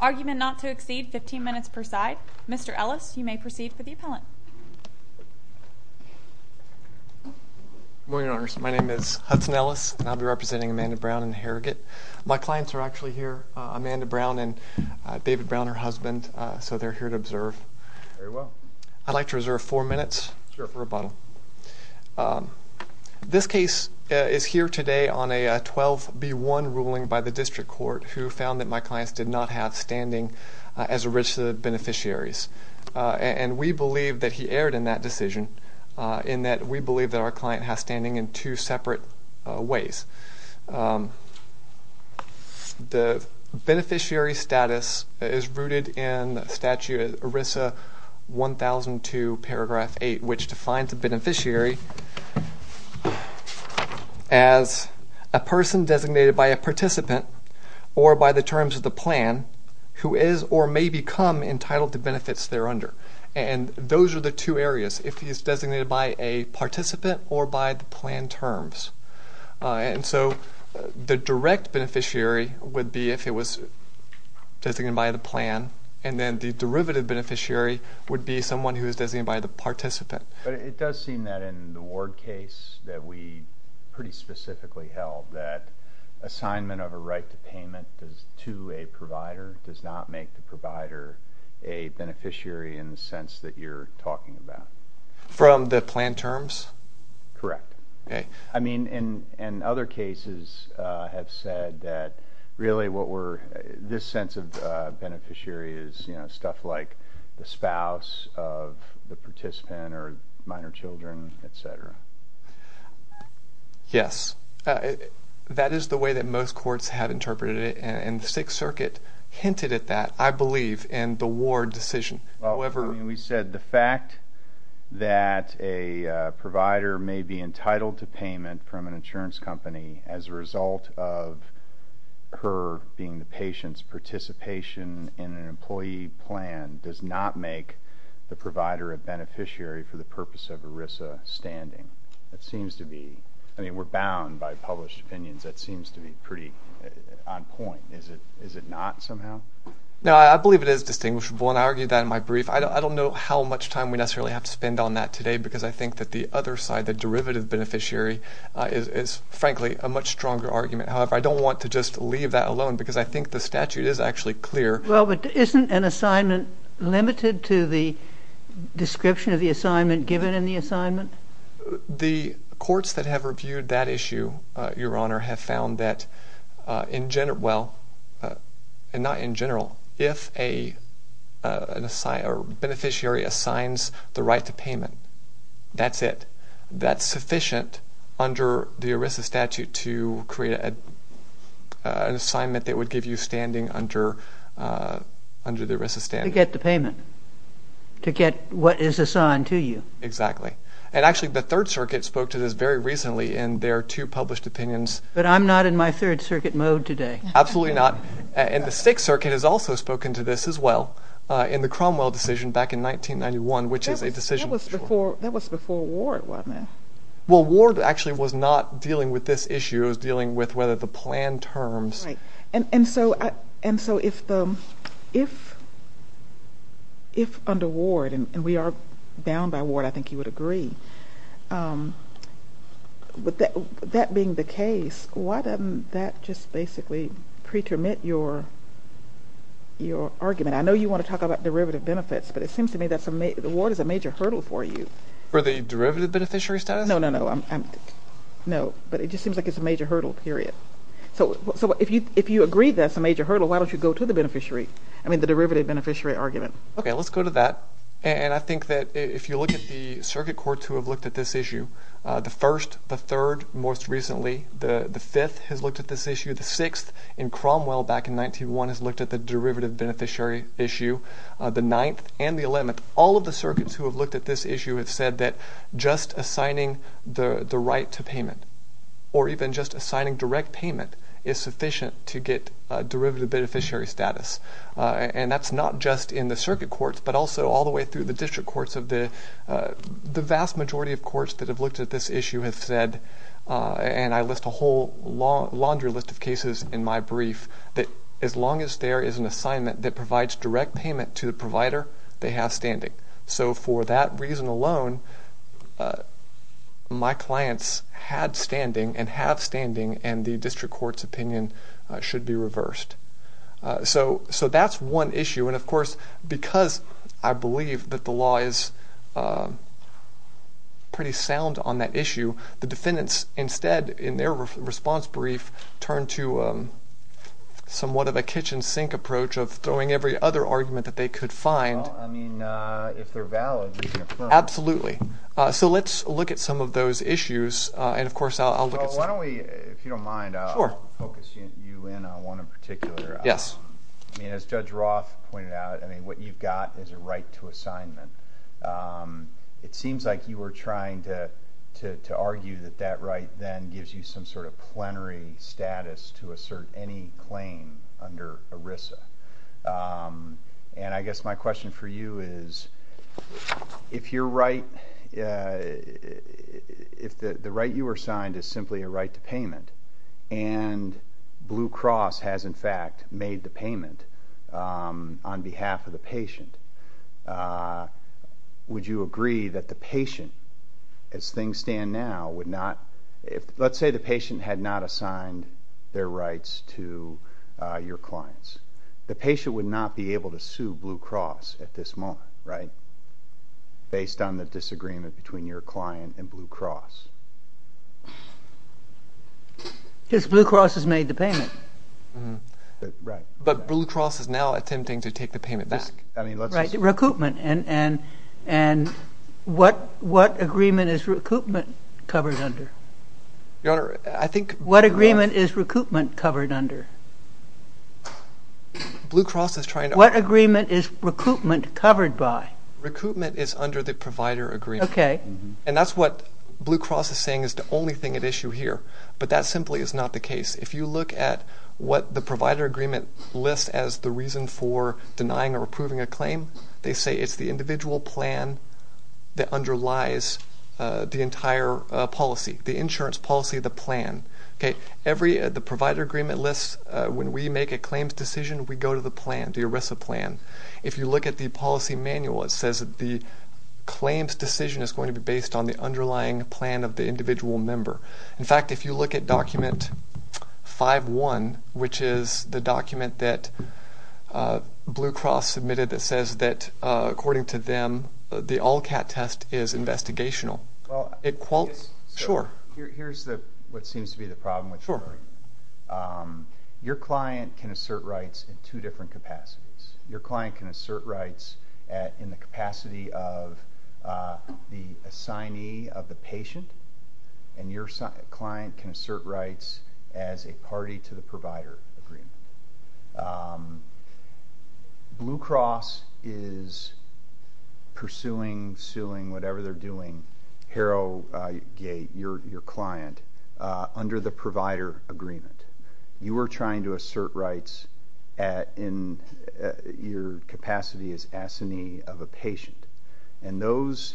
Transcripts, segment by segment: Argument not to exceed 15 minutes per side. Mr. Ellis, you may proceed for the appellant. Good morning, Your Honors. My name is Hudson Ellis, and I'll be representing Amanda Brown in the Harrogate. My clients are actually here, Amanda Brown and David Brown, her husband, so they're here to observe. Very well. I'd like to reserve four minutes. Sure. For rebuttal. This case is here today on a 12-B-1 ruling by the district court who found that my clients did not have standing as a register of beneficiaries, and we believe that he erred in that decision in that we believe that our client has standing in two defines a beneficiary as a person designated by a participant or by the terms of the plan who is or may become entitled to benefits thereunder. And those are the two areas, if he is designated by a participant or by the plan terms. And so the direct beneficiary would be if it was designated by the plan, and then the derivative beneficiary would be someone who is designated by the participant. But it does seem that in the Ward case that we pretty specifically held that assignment of a right to payment to a provider does not make the provider a beneficiary in the sense that you're talking about. From the plan terms? Correct. Okay. I mean, in other cases have said that really what were this sense of beneficiary is, you know, stuff like the spouse of the participant or minor children, etc. Yes. That is the way that most courts have interpreted it, and the Sixth Circuit hinted at that, I believe, in the Ward decision. Well, I mean, we said the fact that a provider may be entitled to payment from an insurance company as a result of her being the patient's participation in an employee plan does not make the provider a beneficiary for the purpose of ERISA standing. That seems to be, I mean, we're bound by published opinions. That seems to be pretty on point. Is it not somehow? No, I believe it is distinguishable, and I argued that in my brief. I don't know how much time we necessarily have to spend on that today because I think that the other side, the derivative beneficiary, is frankly a much stronger argument. However, I don't want to just leave that alone because I think the statute is actually clear. Well, but isn't an assignment limited to the description of the assignment given in the assignment? The courts that have reviewed that issue, Your Honor, have found that in general, well, and not in general, if a beneficiary assigns the right to payment, that's it. That's sufficient under the ERISA statute to create an assignment that would give you standing under the ERISA statute. To get the payment. To get what is assigned to you. Exactly. And actually the Third Circuit spoke to this very recently in their two published opinions. But I'm not in my Third Circuit mode today. Absolutely not. And the Sixth Circuit has also spoken to this as well in the Cromwell decision back in 1991, which is a decision. That was before Ward, wasn't it? Well, Ward actually was not dealing with this issue. It was dealing with whether the plan terms. Right. And so if under Ward, and we are bound by Ward, I think you would agree, with that being the case, why doesn't that just basically pretermit your argument? I know you want to talk about derivative benefits, but it seems to me that the Ward is a major hurdle for you. For the derivative beneficiary status? No, no, no. But it just seems like it's a major hurdle, period. So if you agree that's a major hurdle, why don't you go to the beneficiary? I mean the derivative beneficiary argument. Okay, let's go to that. And I think that if you look at the circuit courts who have looked at this issue, the First, the Third most recently, the Fifth has looked at this issue, the Sixth in Cromwell back in 1991 has looked at the derivative beneficiary issue, the Ninth and the Eleventh. All of the circuits who have looked at this issue have said that just assigning the right to payment, or even just assigning direct payment, is sufficient to get derivative beneficiary status. And that's not just in the circuit courts, but also all the way through the district courts. The vast majority of courts that have looked at this issue have said, and I list a whole laundry list of cases in my brief, that as long as there is an assignment that they have standing. So for that reason alone, my clients had standing, and have standing, and the district court's opinion should be reversed. So that's one issue, and of course because I believe that the law is pretty sound on that issue, the defendants instead, in their response brief, turned to somewhat of a kitchen sink approach of throwing every other argument that they could find. Well, I mean, if they're valid, you can affirm them. Absolutely. So let's look at some of those issues, and of course I'll look at some. Well, why don't we, if you don't mind, I'll focus you in on one in particular. Yes. I mean, as Judge Roth pointed out, what you've got is a right to assignment. It seems like you were trying to argue that that right then gives you some sort of plenary status to assert any claim under ERISA. And I guess my question for you is, if you're right, if the right you were assigned is simply a right to payment, and Blue Cross has in fact made the payment on behalf of the patient, would you agree that the patient, as things stand now, would not assign their rights to your clients? The patient would not be able to sue Blue Cross at this moment, right? Based on the disagreement between your client and Blue Cross. Because Blue Cross has made the payment. Right. But Blue Cross is now attempting to take the payment back. Right. Recoupment. And what agreement is recoupment covered under? Your Honor, I think... What agreement is recoupment covered under? Blue Cross is trying to... What agreement is recoupment covered by? Recoupment is under the provider agreement. Okay. And that's what Blue Cross is saying is the only thing at issue here. But that simply is not the case. If you look at what the provider agreement lists as the reason for denying or approving a claim, they say it's the individual plan that underlies the entire policy, the insurance policy, the plan. Okay. The provider agreement lists, when we make a claims decision, we go to the plan, the ERISA plan. If you look at the policy manual, it says that the claims decision is going to be based on the underlying plan of the individual member. In fact, if you look at document 5-1, which is the document that Blue Cross submitted that says that, according to them, the all-cat test is investigational. Well, I... Sure. Here's what seems to be the problem with this agreement. Sure. Your client can assert rights in two different capacities. Your client can assert rights in the capacity of the assignee of the patient, and your client can assert rights as a party to the provider agreement. Blue Cross is pursuing, suing, whatever they're doing, Harrogate, your client, under the provider agreement. You are trying to assert rights in your capacity as assignee of a patient, and those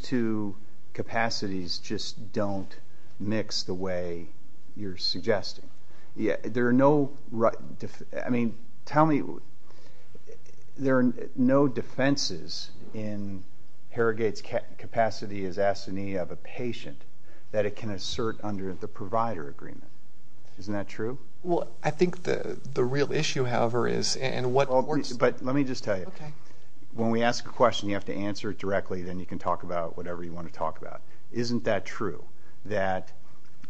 two capacities just don't mix the way you're suggesting. There are no defenses in Harrogate's capacity as assignee of a patient that it can assert under the provider agreement. Isn't that true? Well, I think the real issue, however, is... Well, but let me just tell you. When we ask a question, you have to answer it directly, then you can talk about whatever you want to talk about. Isn't that true, that,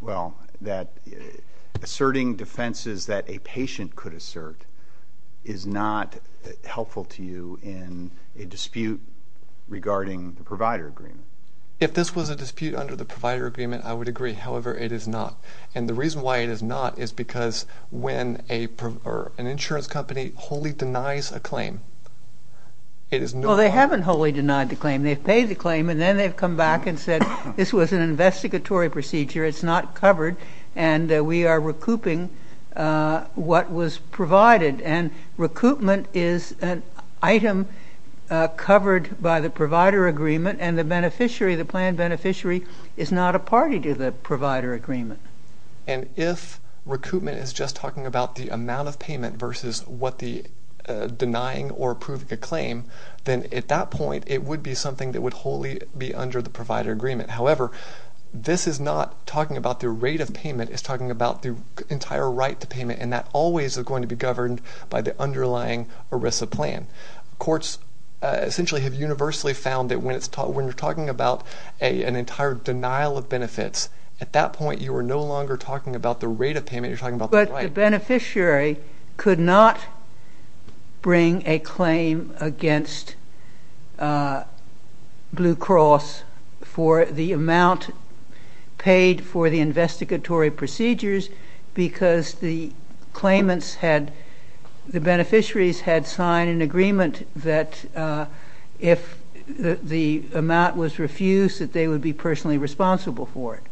well, that asserting defenses that a patient could assert is not helpful to you in a dispute regarding the provider agreement? If this was a dispute under the provider agreement, I would agree. However, it is not. And the reason why it is not is because when an insurance company wholly denies a claim, it is no longer... Well, they haven't wholly denied the claim. They've paid the claim, and then they've come back and said, this was an investigatory procedure, it's not covered, and we are recouping what was provided. And recoupment is an item covered by the provider agreement, and the beneficiary, is not a party to the provider agreement. And if recoupment is just talking about the amount of payment versus what the denying or approving a claim, then at that point, it would be something that would wholly be under the provider agreement. However, this is not talking about the rate of payment. It's talking about the entire right to payment, and that always is going to be governed by the underlying ERISA plan. Courts essentially have universally found that when you're talking about an entire denial of benefits, at that point, you are no longer talking about the rate of payment, you're talking about the right. But the beneficiary could not bring a claim against Blue Cross for the amount paid for the investigatory procedures because the claimants had, the beneficiaries had signed an agreement that if the amount was refused, that they would be personally responsible for it.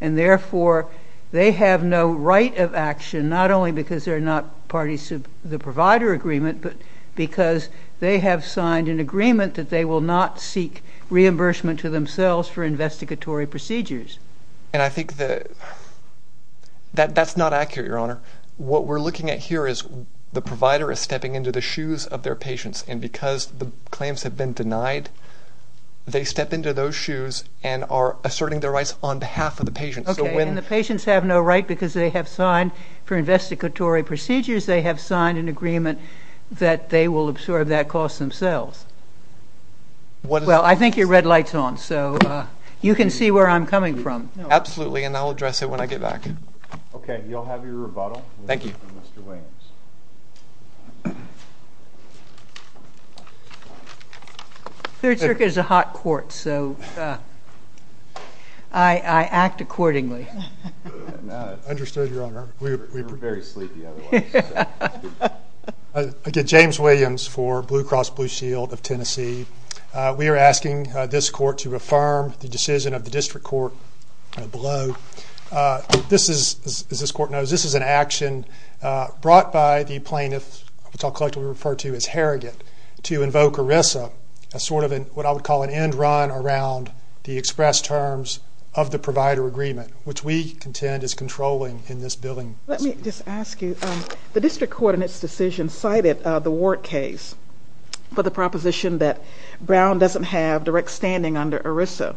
And therefore, they have no right of action, not only because they're not parties to the provider agreement, but because they have signed an agreement that they will not seek reimbursement to themselves for investigatory procedures. And I think that's not accurate, Your Honor. What we're looking at here is the provider is stepping into the shoes of their patients, and because the claims have been denied, they step into those shoes and are asserting their rights on behalf of the patients. Okay, and the patients have no right because they have signed, for investigatory procedures, they have signed an agreement that they will absorb that cost themselves. Well, I think your red light's on, so you can see where I'm coming from. Absolutely, and I'll address it when I get back. Okay, you'll have your rebuttal. Thank you. Mr. Williams. Third Circuit is a hot court, so I act accordingly. Understood, Your Honor. We were very sleepy otherwise. Again, James Williams for Blue Cross Blue Shield of Tennessee. We are asking this court to affirm the decision of the district court below. This is, as this court knows, this is an action brought by the plaintiff, which I'll collectively refer to as Harrogate, to invoke ERISA as sort of what I would call an end run around the express terms of the provider agreement, which we contend is controlling in this building. Let me just ask you, the district court in its decision cited the Ward case for the proposition that Brown doesn't have direct standing under ERISA.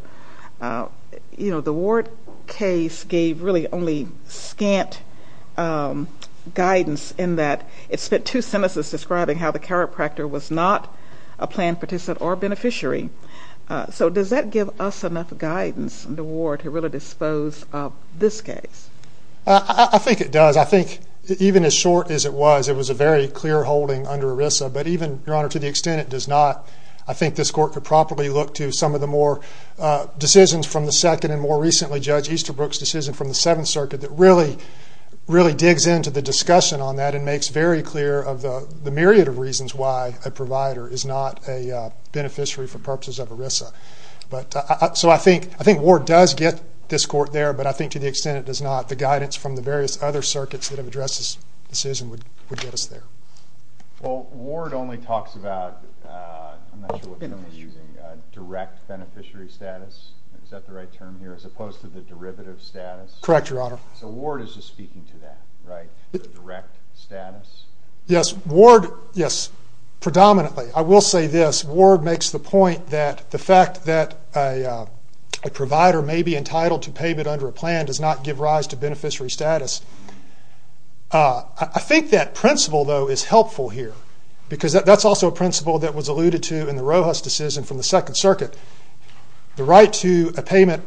You know, the Ward case gave really only scant guidance in that it spent two sentences describing how the chiropractor was not a planned participant or beneficiary. So does that give us enough guidance in the Ward to really dispose of this case? I think it does. I think even as short as it was, it was a very clear holding under ERISA, but even, Your Honor, to the extent it does not, I think this court could properly look to some of the more decisions from the second and more recently Judge Easterbrook's decision from the Seventh Circuit that really digs into the discussion on that and makes very clear of the myriad of reasons why a provider is not a beneficiary for purposes of ERISA. So I think Ward does get this court there, but I think to the extent it does not, the guidance from the various other circuits that have addressed this decision would get us there. Well, Ward only talks about direct beneficiary status. Is that the right term here, as opposed to the derivative status? Correct, Your Honor. So Ward is just speaking to that, right? The direct status? Yes. Ward, yes, predominantly. I will say this. Ward makes the point that the fact that a provider may be entitled to pay but under a plan does not give rise to beneficiary status. I think that principle, though, is helpful here, because that's also a principle that was alluded to in the Rojas decision from the Second Circuit. The right to a payment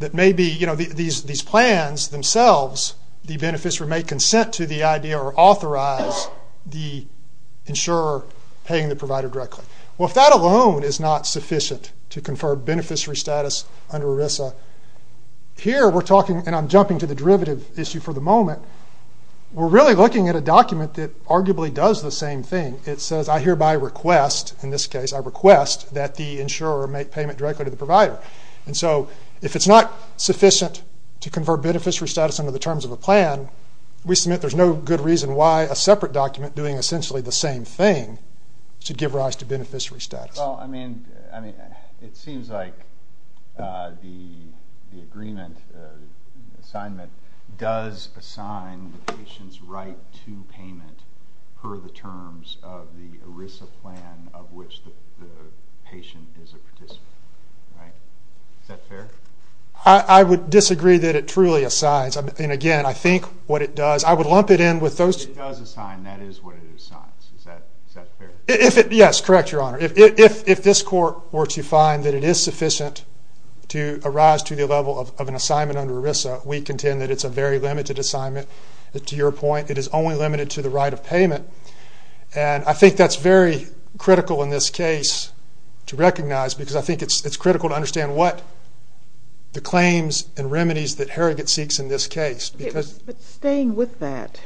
that may be, you know, these plans themselves, the beneficiary may consent to the idea or authorize the insurer paying the provider directly. Well, if that alone is not sufficient to confer beneficiary status under ERISA, here we're talking, and I'm We're really looking at a document that arguably does the same thing. It says, I hereby request, in this case, I request that the insurer make payment directly to the provider. And so if it's not sufficient to confer beneficiary status under the terms of a plan, we submit there's no good reason why a separate document doing essentially the same thing should give rise to beneficiary status. Well, I mean, it seems like the agreement assignment does assign the patient's right to payment per the terms of the ERISA plan of which the patient is a participant, right? Is that fair? I would disagree that it truly assigns. And, again, I think what it does, I would lump it in with those If it does assign, that is what it assigns. Is that fair? Yes, correct, Your Honor. If this court were to find that it is sufficient to arise to the level of an assignment under ERISA, we contend that it's a very limited assignment. To your point, it is only limited to the right of payment. And I think that's very critical in this case to recognize because I think it's critical to understand what the claims and remedies that Herigot seeks in this case. But staying with that,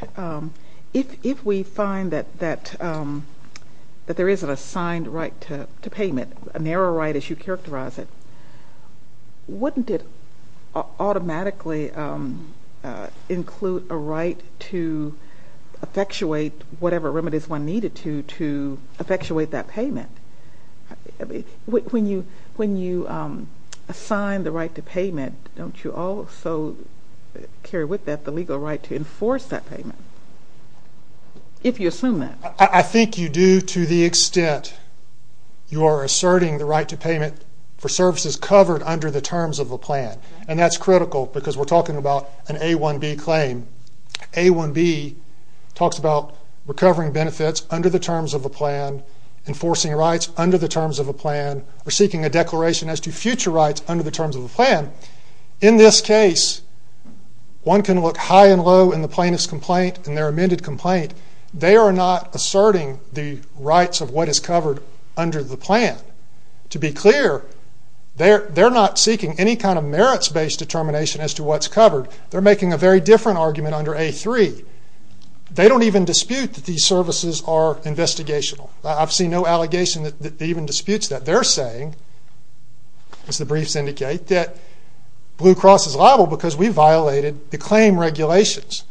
if we find that there is an assigned right to payment, a narrow right as you characterize it, wouldn't it automatically include a right to effectuate whatever remedies one needed to effectuate that payment? When you assign the right to payment, don't you also carry with that the legal right to enforce that payment, if you assume that? I think you do to the extent you are asserting the right to payment for services covered under the terms of a plan. And that's critical because we're talking about an A1B claim. A1B talks about recovering benefits under the terms of a plan, enforcing rights under the terms of a plan, or seeking a declaration as to future rights under the terms of a plan. In this case, one can look high and low in the plaintiff's complaint and their amended complaint. They are not asserting the rights of what is covered under the plan. To be clear, they're not seeking any kind of merits-based determination as to what's covered. They're making a very different argument under A3. They don't even dispute that these services are investigational. I've seen no allegation that they even dispute that. They're saying, as the briefs indicate, that Blue Cross is liable because we violated the claim regulations.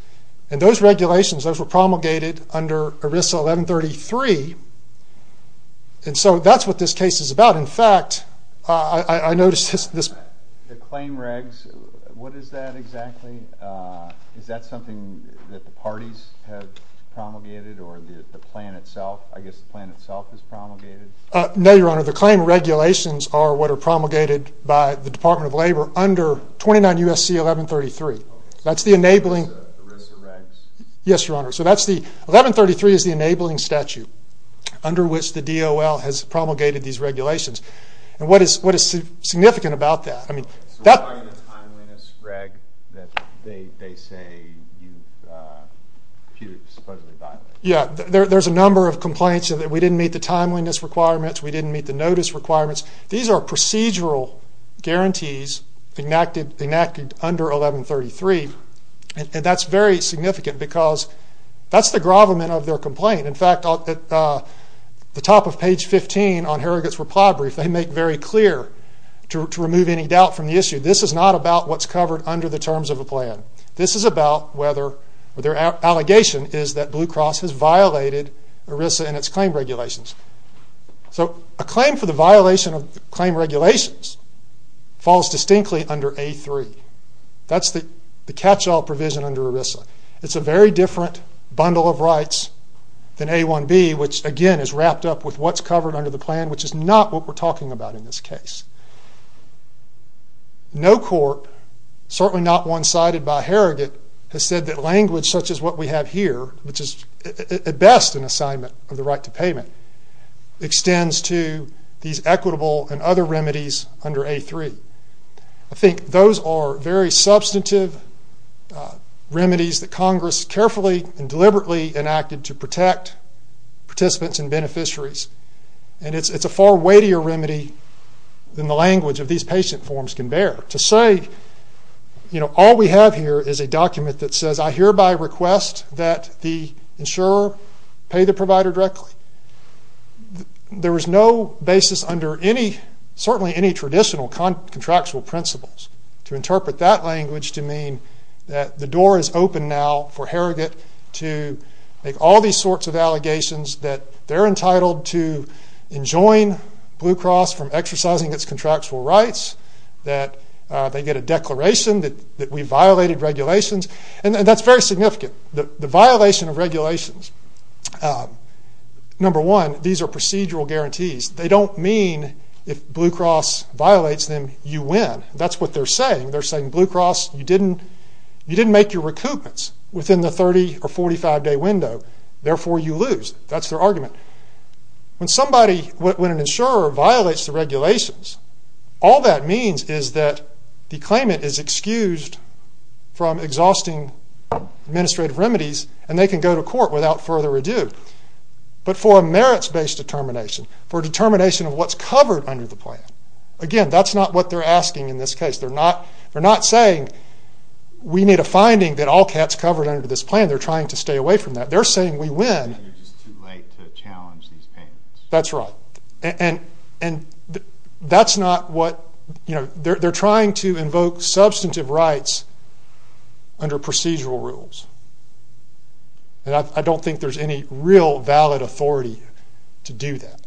And those regulations, those were promulgated under ERISA 1133, and so that's what this case is about. But, in fact, I noticed this. The claim regs, what is that exactly? Is that something that the parties have promulgated or the plan itself? I guess the plan itself is promulgated. No, Your Honor, the claim regulations are what are promulgated by the Department of Labor under 29 U.S.C. 1133. That's the enabling. The ERISA regs. Yes, Your Honor. 1133 is the enabling statute under which the DOL has promulgated these regulations. And what is significant about that? So why are you a timeliness reg that they say you've supposedly violated? Yeah, there's a number of complaints. We didn't meet the timeliness requirements. We didn't meet the notice requirements. These are procedural guarantees enacted under 1133, and that's very significant because that's the gravamen of their complaint. In fact, at the top of page 15 on Harrogate's reply brief, they make very clear to remove any doubt from the issue, this is not about what's covered under the terms of a plan. This is about whether their allegation is that Blue Cross has violated ERISA and its claim regulations. So a claim for the violation of claim regulations falls distinctly under A3. That's the catch-all provision under ERISA. It's a very different bundle of rights than A1B, which again is wrapped up with what's covered under the plan, which is not what we're talking about in this case. No court, certainly not one cited by Harrogate, has said that language such as what we have here, which is at best an assignment of the right to payment, extends to these equitable and other remedies under A3. I think those are very substantive remedies that Congress carefully and deliberately enacted to protect participants and beneficiaries, and it's a far weightier remedy than the language of these patient forms can bear. To say, you know, all we have here is a document that says, I hereby request that the insurer pay the provider directly. There is no basis under certainly any traditional contractual principles to interpret that language to mean that the door is open now for Harrogate to make all these sorts of allegations that they're entitled to enjoin Blue Cross from exercising its contractual rights, that they get a declaration that we violated regulations, and that's very significant. The violation of regulations, number one, these are procedural guarantees. They don't mean if Blue Cross violates them, you win. That's what they're saying. They're saying, Blue Cross, you didn't make your recoupments within the 30 or 45-day window, therefore you lose. That's their argument. When somebody, when an insurer violates the regulations, all that means is that the claimant is excused from exhausting administrative remedies, and they can go to court without further ado. But for a merits-based determination, for a determination of what's covered under the plan, again, that's not what they're asking in this case. They're not saying we need a finding that all cat's covered under this plan. They're trying to stay away from that. They're saying we win. It's just too late to challenge these payments. That's right. That's not what, you know, they're trying to invoke substantive rights under procedural rules. I don't think there's any real valid authority to do that.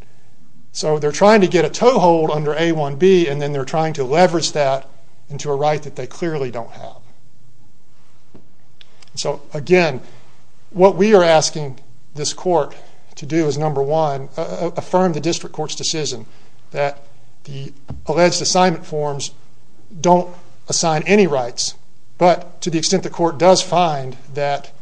So they're trying to get a toehold under A1B, and then they're trying to leverage that into a right that they clearly don't have. So, again, what we are asking this court to do is, number one, affirm the district court's decision that the alleged assignment forms don't assign any rights, but to the extent the court does find that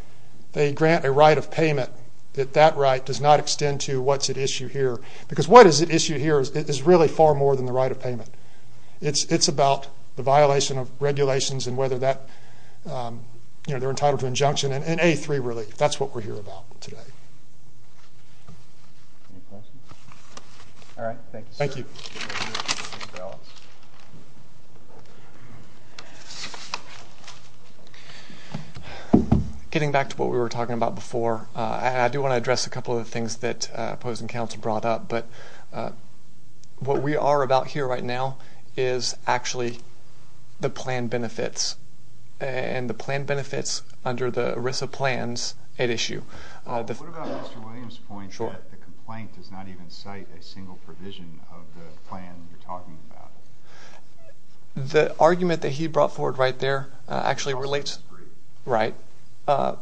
they grant a right of payment, that that right does not extend to what's at issue here. Because what is at issue here is really far more than the right of payment. It's about the violation of regulations and whether they're entitled to injunction and A3 relief. That's what we're here about today. All right. Thank you, sir. Thank you. Getting back to what we were talking about before, I do want to address a couple of the things that opposing counsel brought up. But what we are about here right now is actually the plan benefits. And the plan benefits under the ERISA plans at issue. What about Mr. Williams' point that the complaint does not even cite a single provision of the plan you're talking about? The argument that he brought forward right there actually relates. That's not in his brief. Right.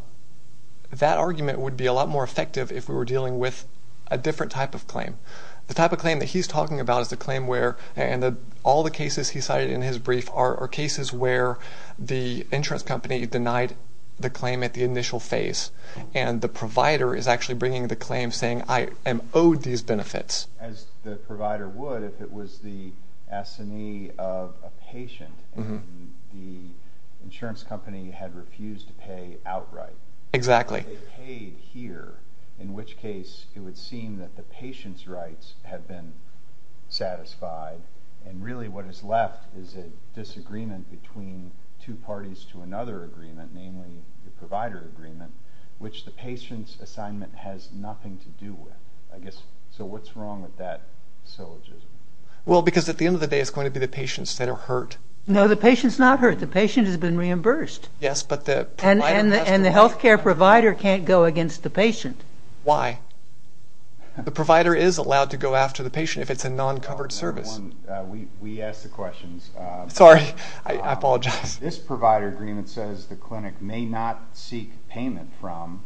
That argument would be a lot more effective if we were dealing with a different type of claim. The type of claim that he's talking about is the claim where, and all the cases he cited in his brief are cases where the insurance company denied the claim at the initial phase. And the provider is actually bringing the claim saying, I am owed these benefits. As the provider would if it was the assignee of a patient and the insurance company had refused to pay outright. Exactly. They paid here, in which case it would seem that the patient's rights have been satisfied. And really what is left is a disagreement between two parties to another agreement, namely the provider agreement, which the patient's assignment has nothing to do with. So what's wrong with that syllogism? Well, because at the end of the day it's going to be the patients that are hurt. No, the patient's not hurt. The patient has been reimbursed. And the health care provider can't go against the patient. Why? The provider is allowed to go after the patient if it's a non-covered service. We ask the questions. Sorry, I apologize. This provider agreement says the clinic may not seek payment from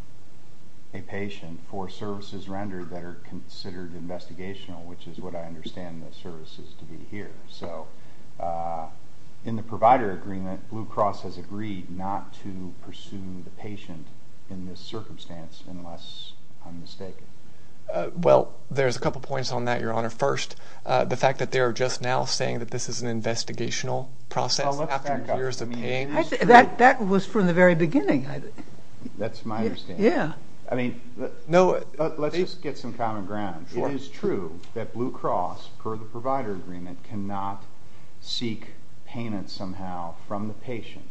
a patient for services rendered that are considered investigational, which is what I understand the service is to be here. In the provider agreement, Blue Cross has agreed not to pursue the patient in this circumstance unless I'm mistaken. Well, there's a couple points on that, Your Honor. First, the fact that they are just now saying that this is an investigational process after years of paying. That was from the very beginning. That's my understanding. Yeah. Let's just get some common ground. It is true that Blue Cross, per the provider agreement, cannot seek payment somehow from the patient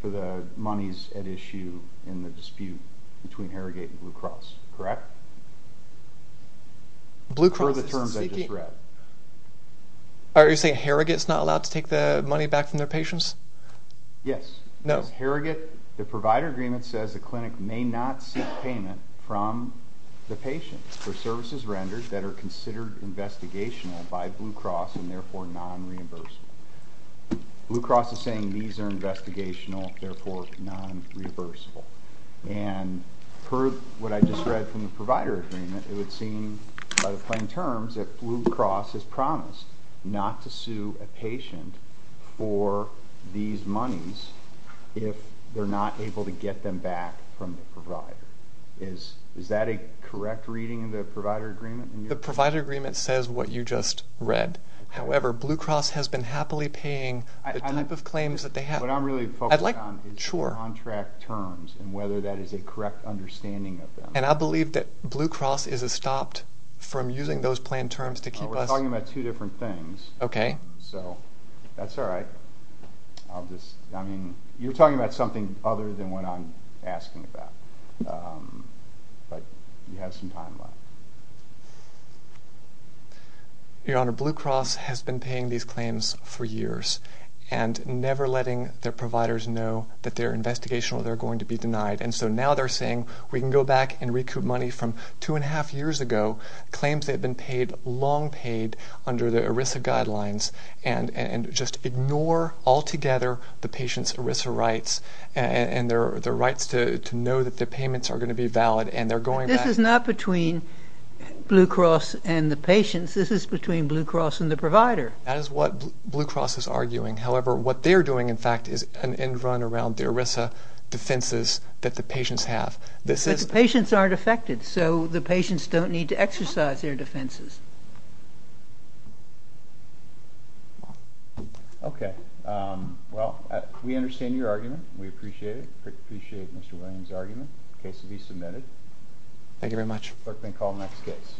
for the monies at issue in the dispute between Harrogate and Blue Cross, correct? Blue Cross is seeking. Per the terms I just read. Are you saying Harrogate is not allowed to take the money back from their patients? Yes. No. Harrogate, the provider agreement says the clinic may not seek payment from the patient for services rendered that are considered investigational by Blue Cross and therefore non-reimbursable. Blue Cross is saying these are investigational, therefore non-reimbursable. And per what I just read from the provider agreement, it would seem by the plain terms that Blue Cross has promised not to sue a patient for these monies if they're not able to get them back from the provider. Is that a correct reading in the provider agreement? The provider agreement says what you just read. However, Blue Cross has been happily paying the type of claims that they have. What I'm really focused on is the contract terms and whether that is a correct understanding of them. And I believe that Blue Cross is stopped from using those plain terms to keep us... We're talking about two different things. Okay. So that's all right. I mean, you're talking about something other than what I'm asking about. But you have some time left. Your Honor, Blue Cross has been paying these claims for years and never letting their providers know that they're investigational, they're going to be denied. And so now they're saying we can go back and recoup money from two and a half years ago, claims that have been paid, long paid under the ERISA guidelines, and just ignore altogether the patient's ERISA rights and their rights to know that their payments are going to be valid. This is not between Blue Cross and the patients. This is between Blue Cross and the provider. That is what Blue Cross is arguing. However, what they're doing, in fact, is an end run around the ERISA defenses that the patients have. But the patients aren't affected, so the patients don't need to exercise their defenses. Okay. Well, we understand your argument. We appreciate it. The case will be submitted. Thank you very much. Clerk may call the next case.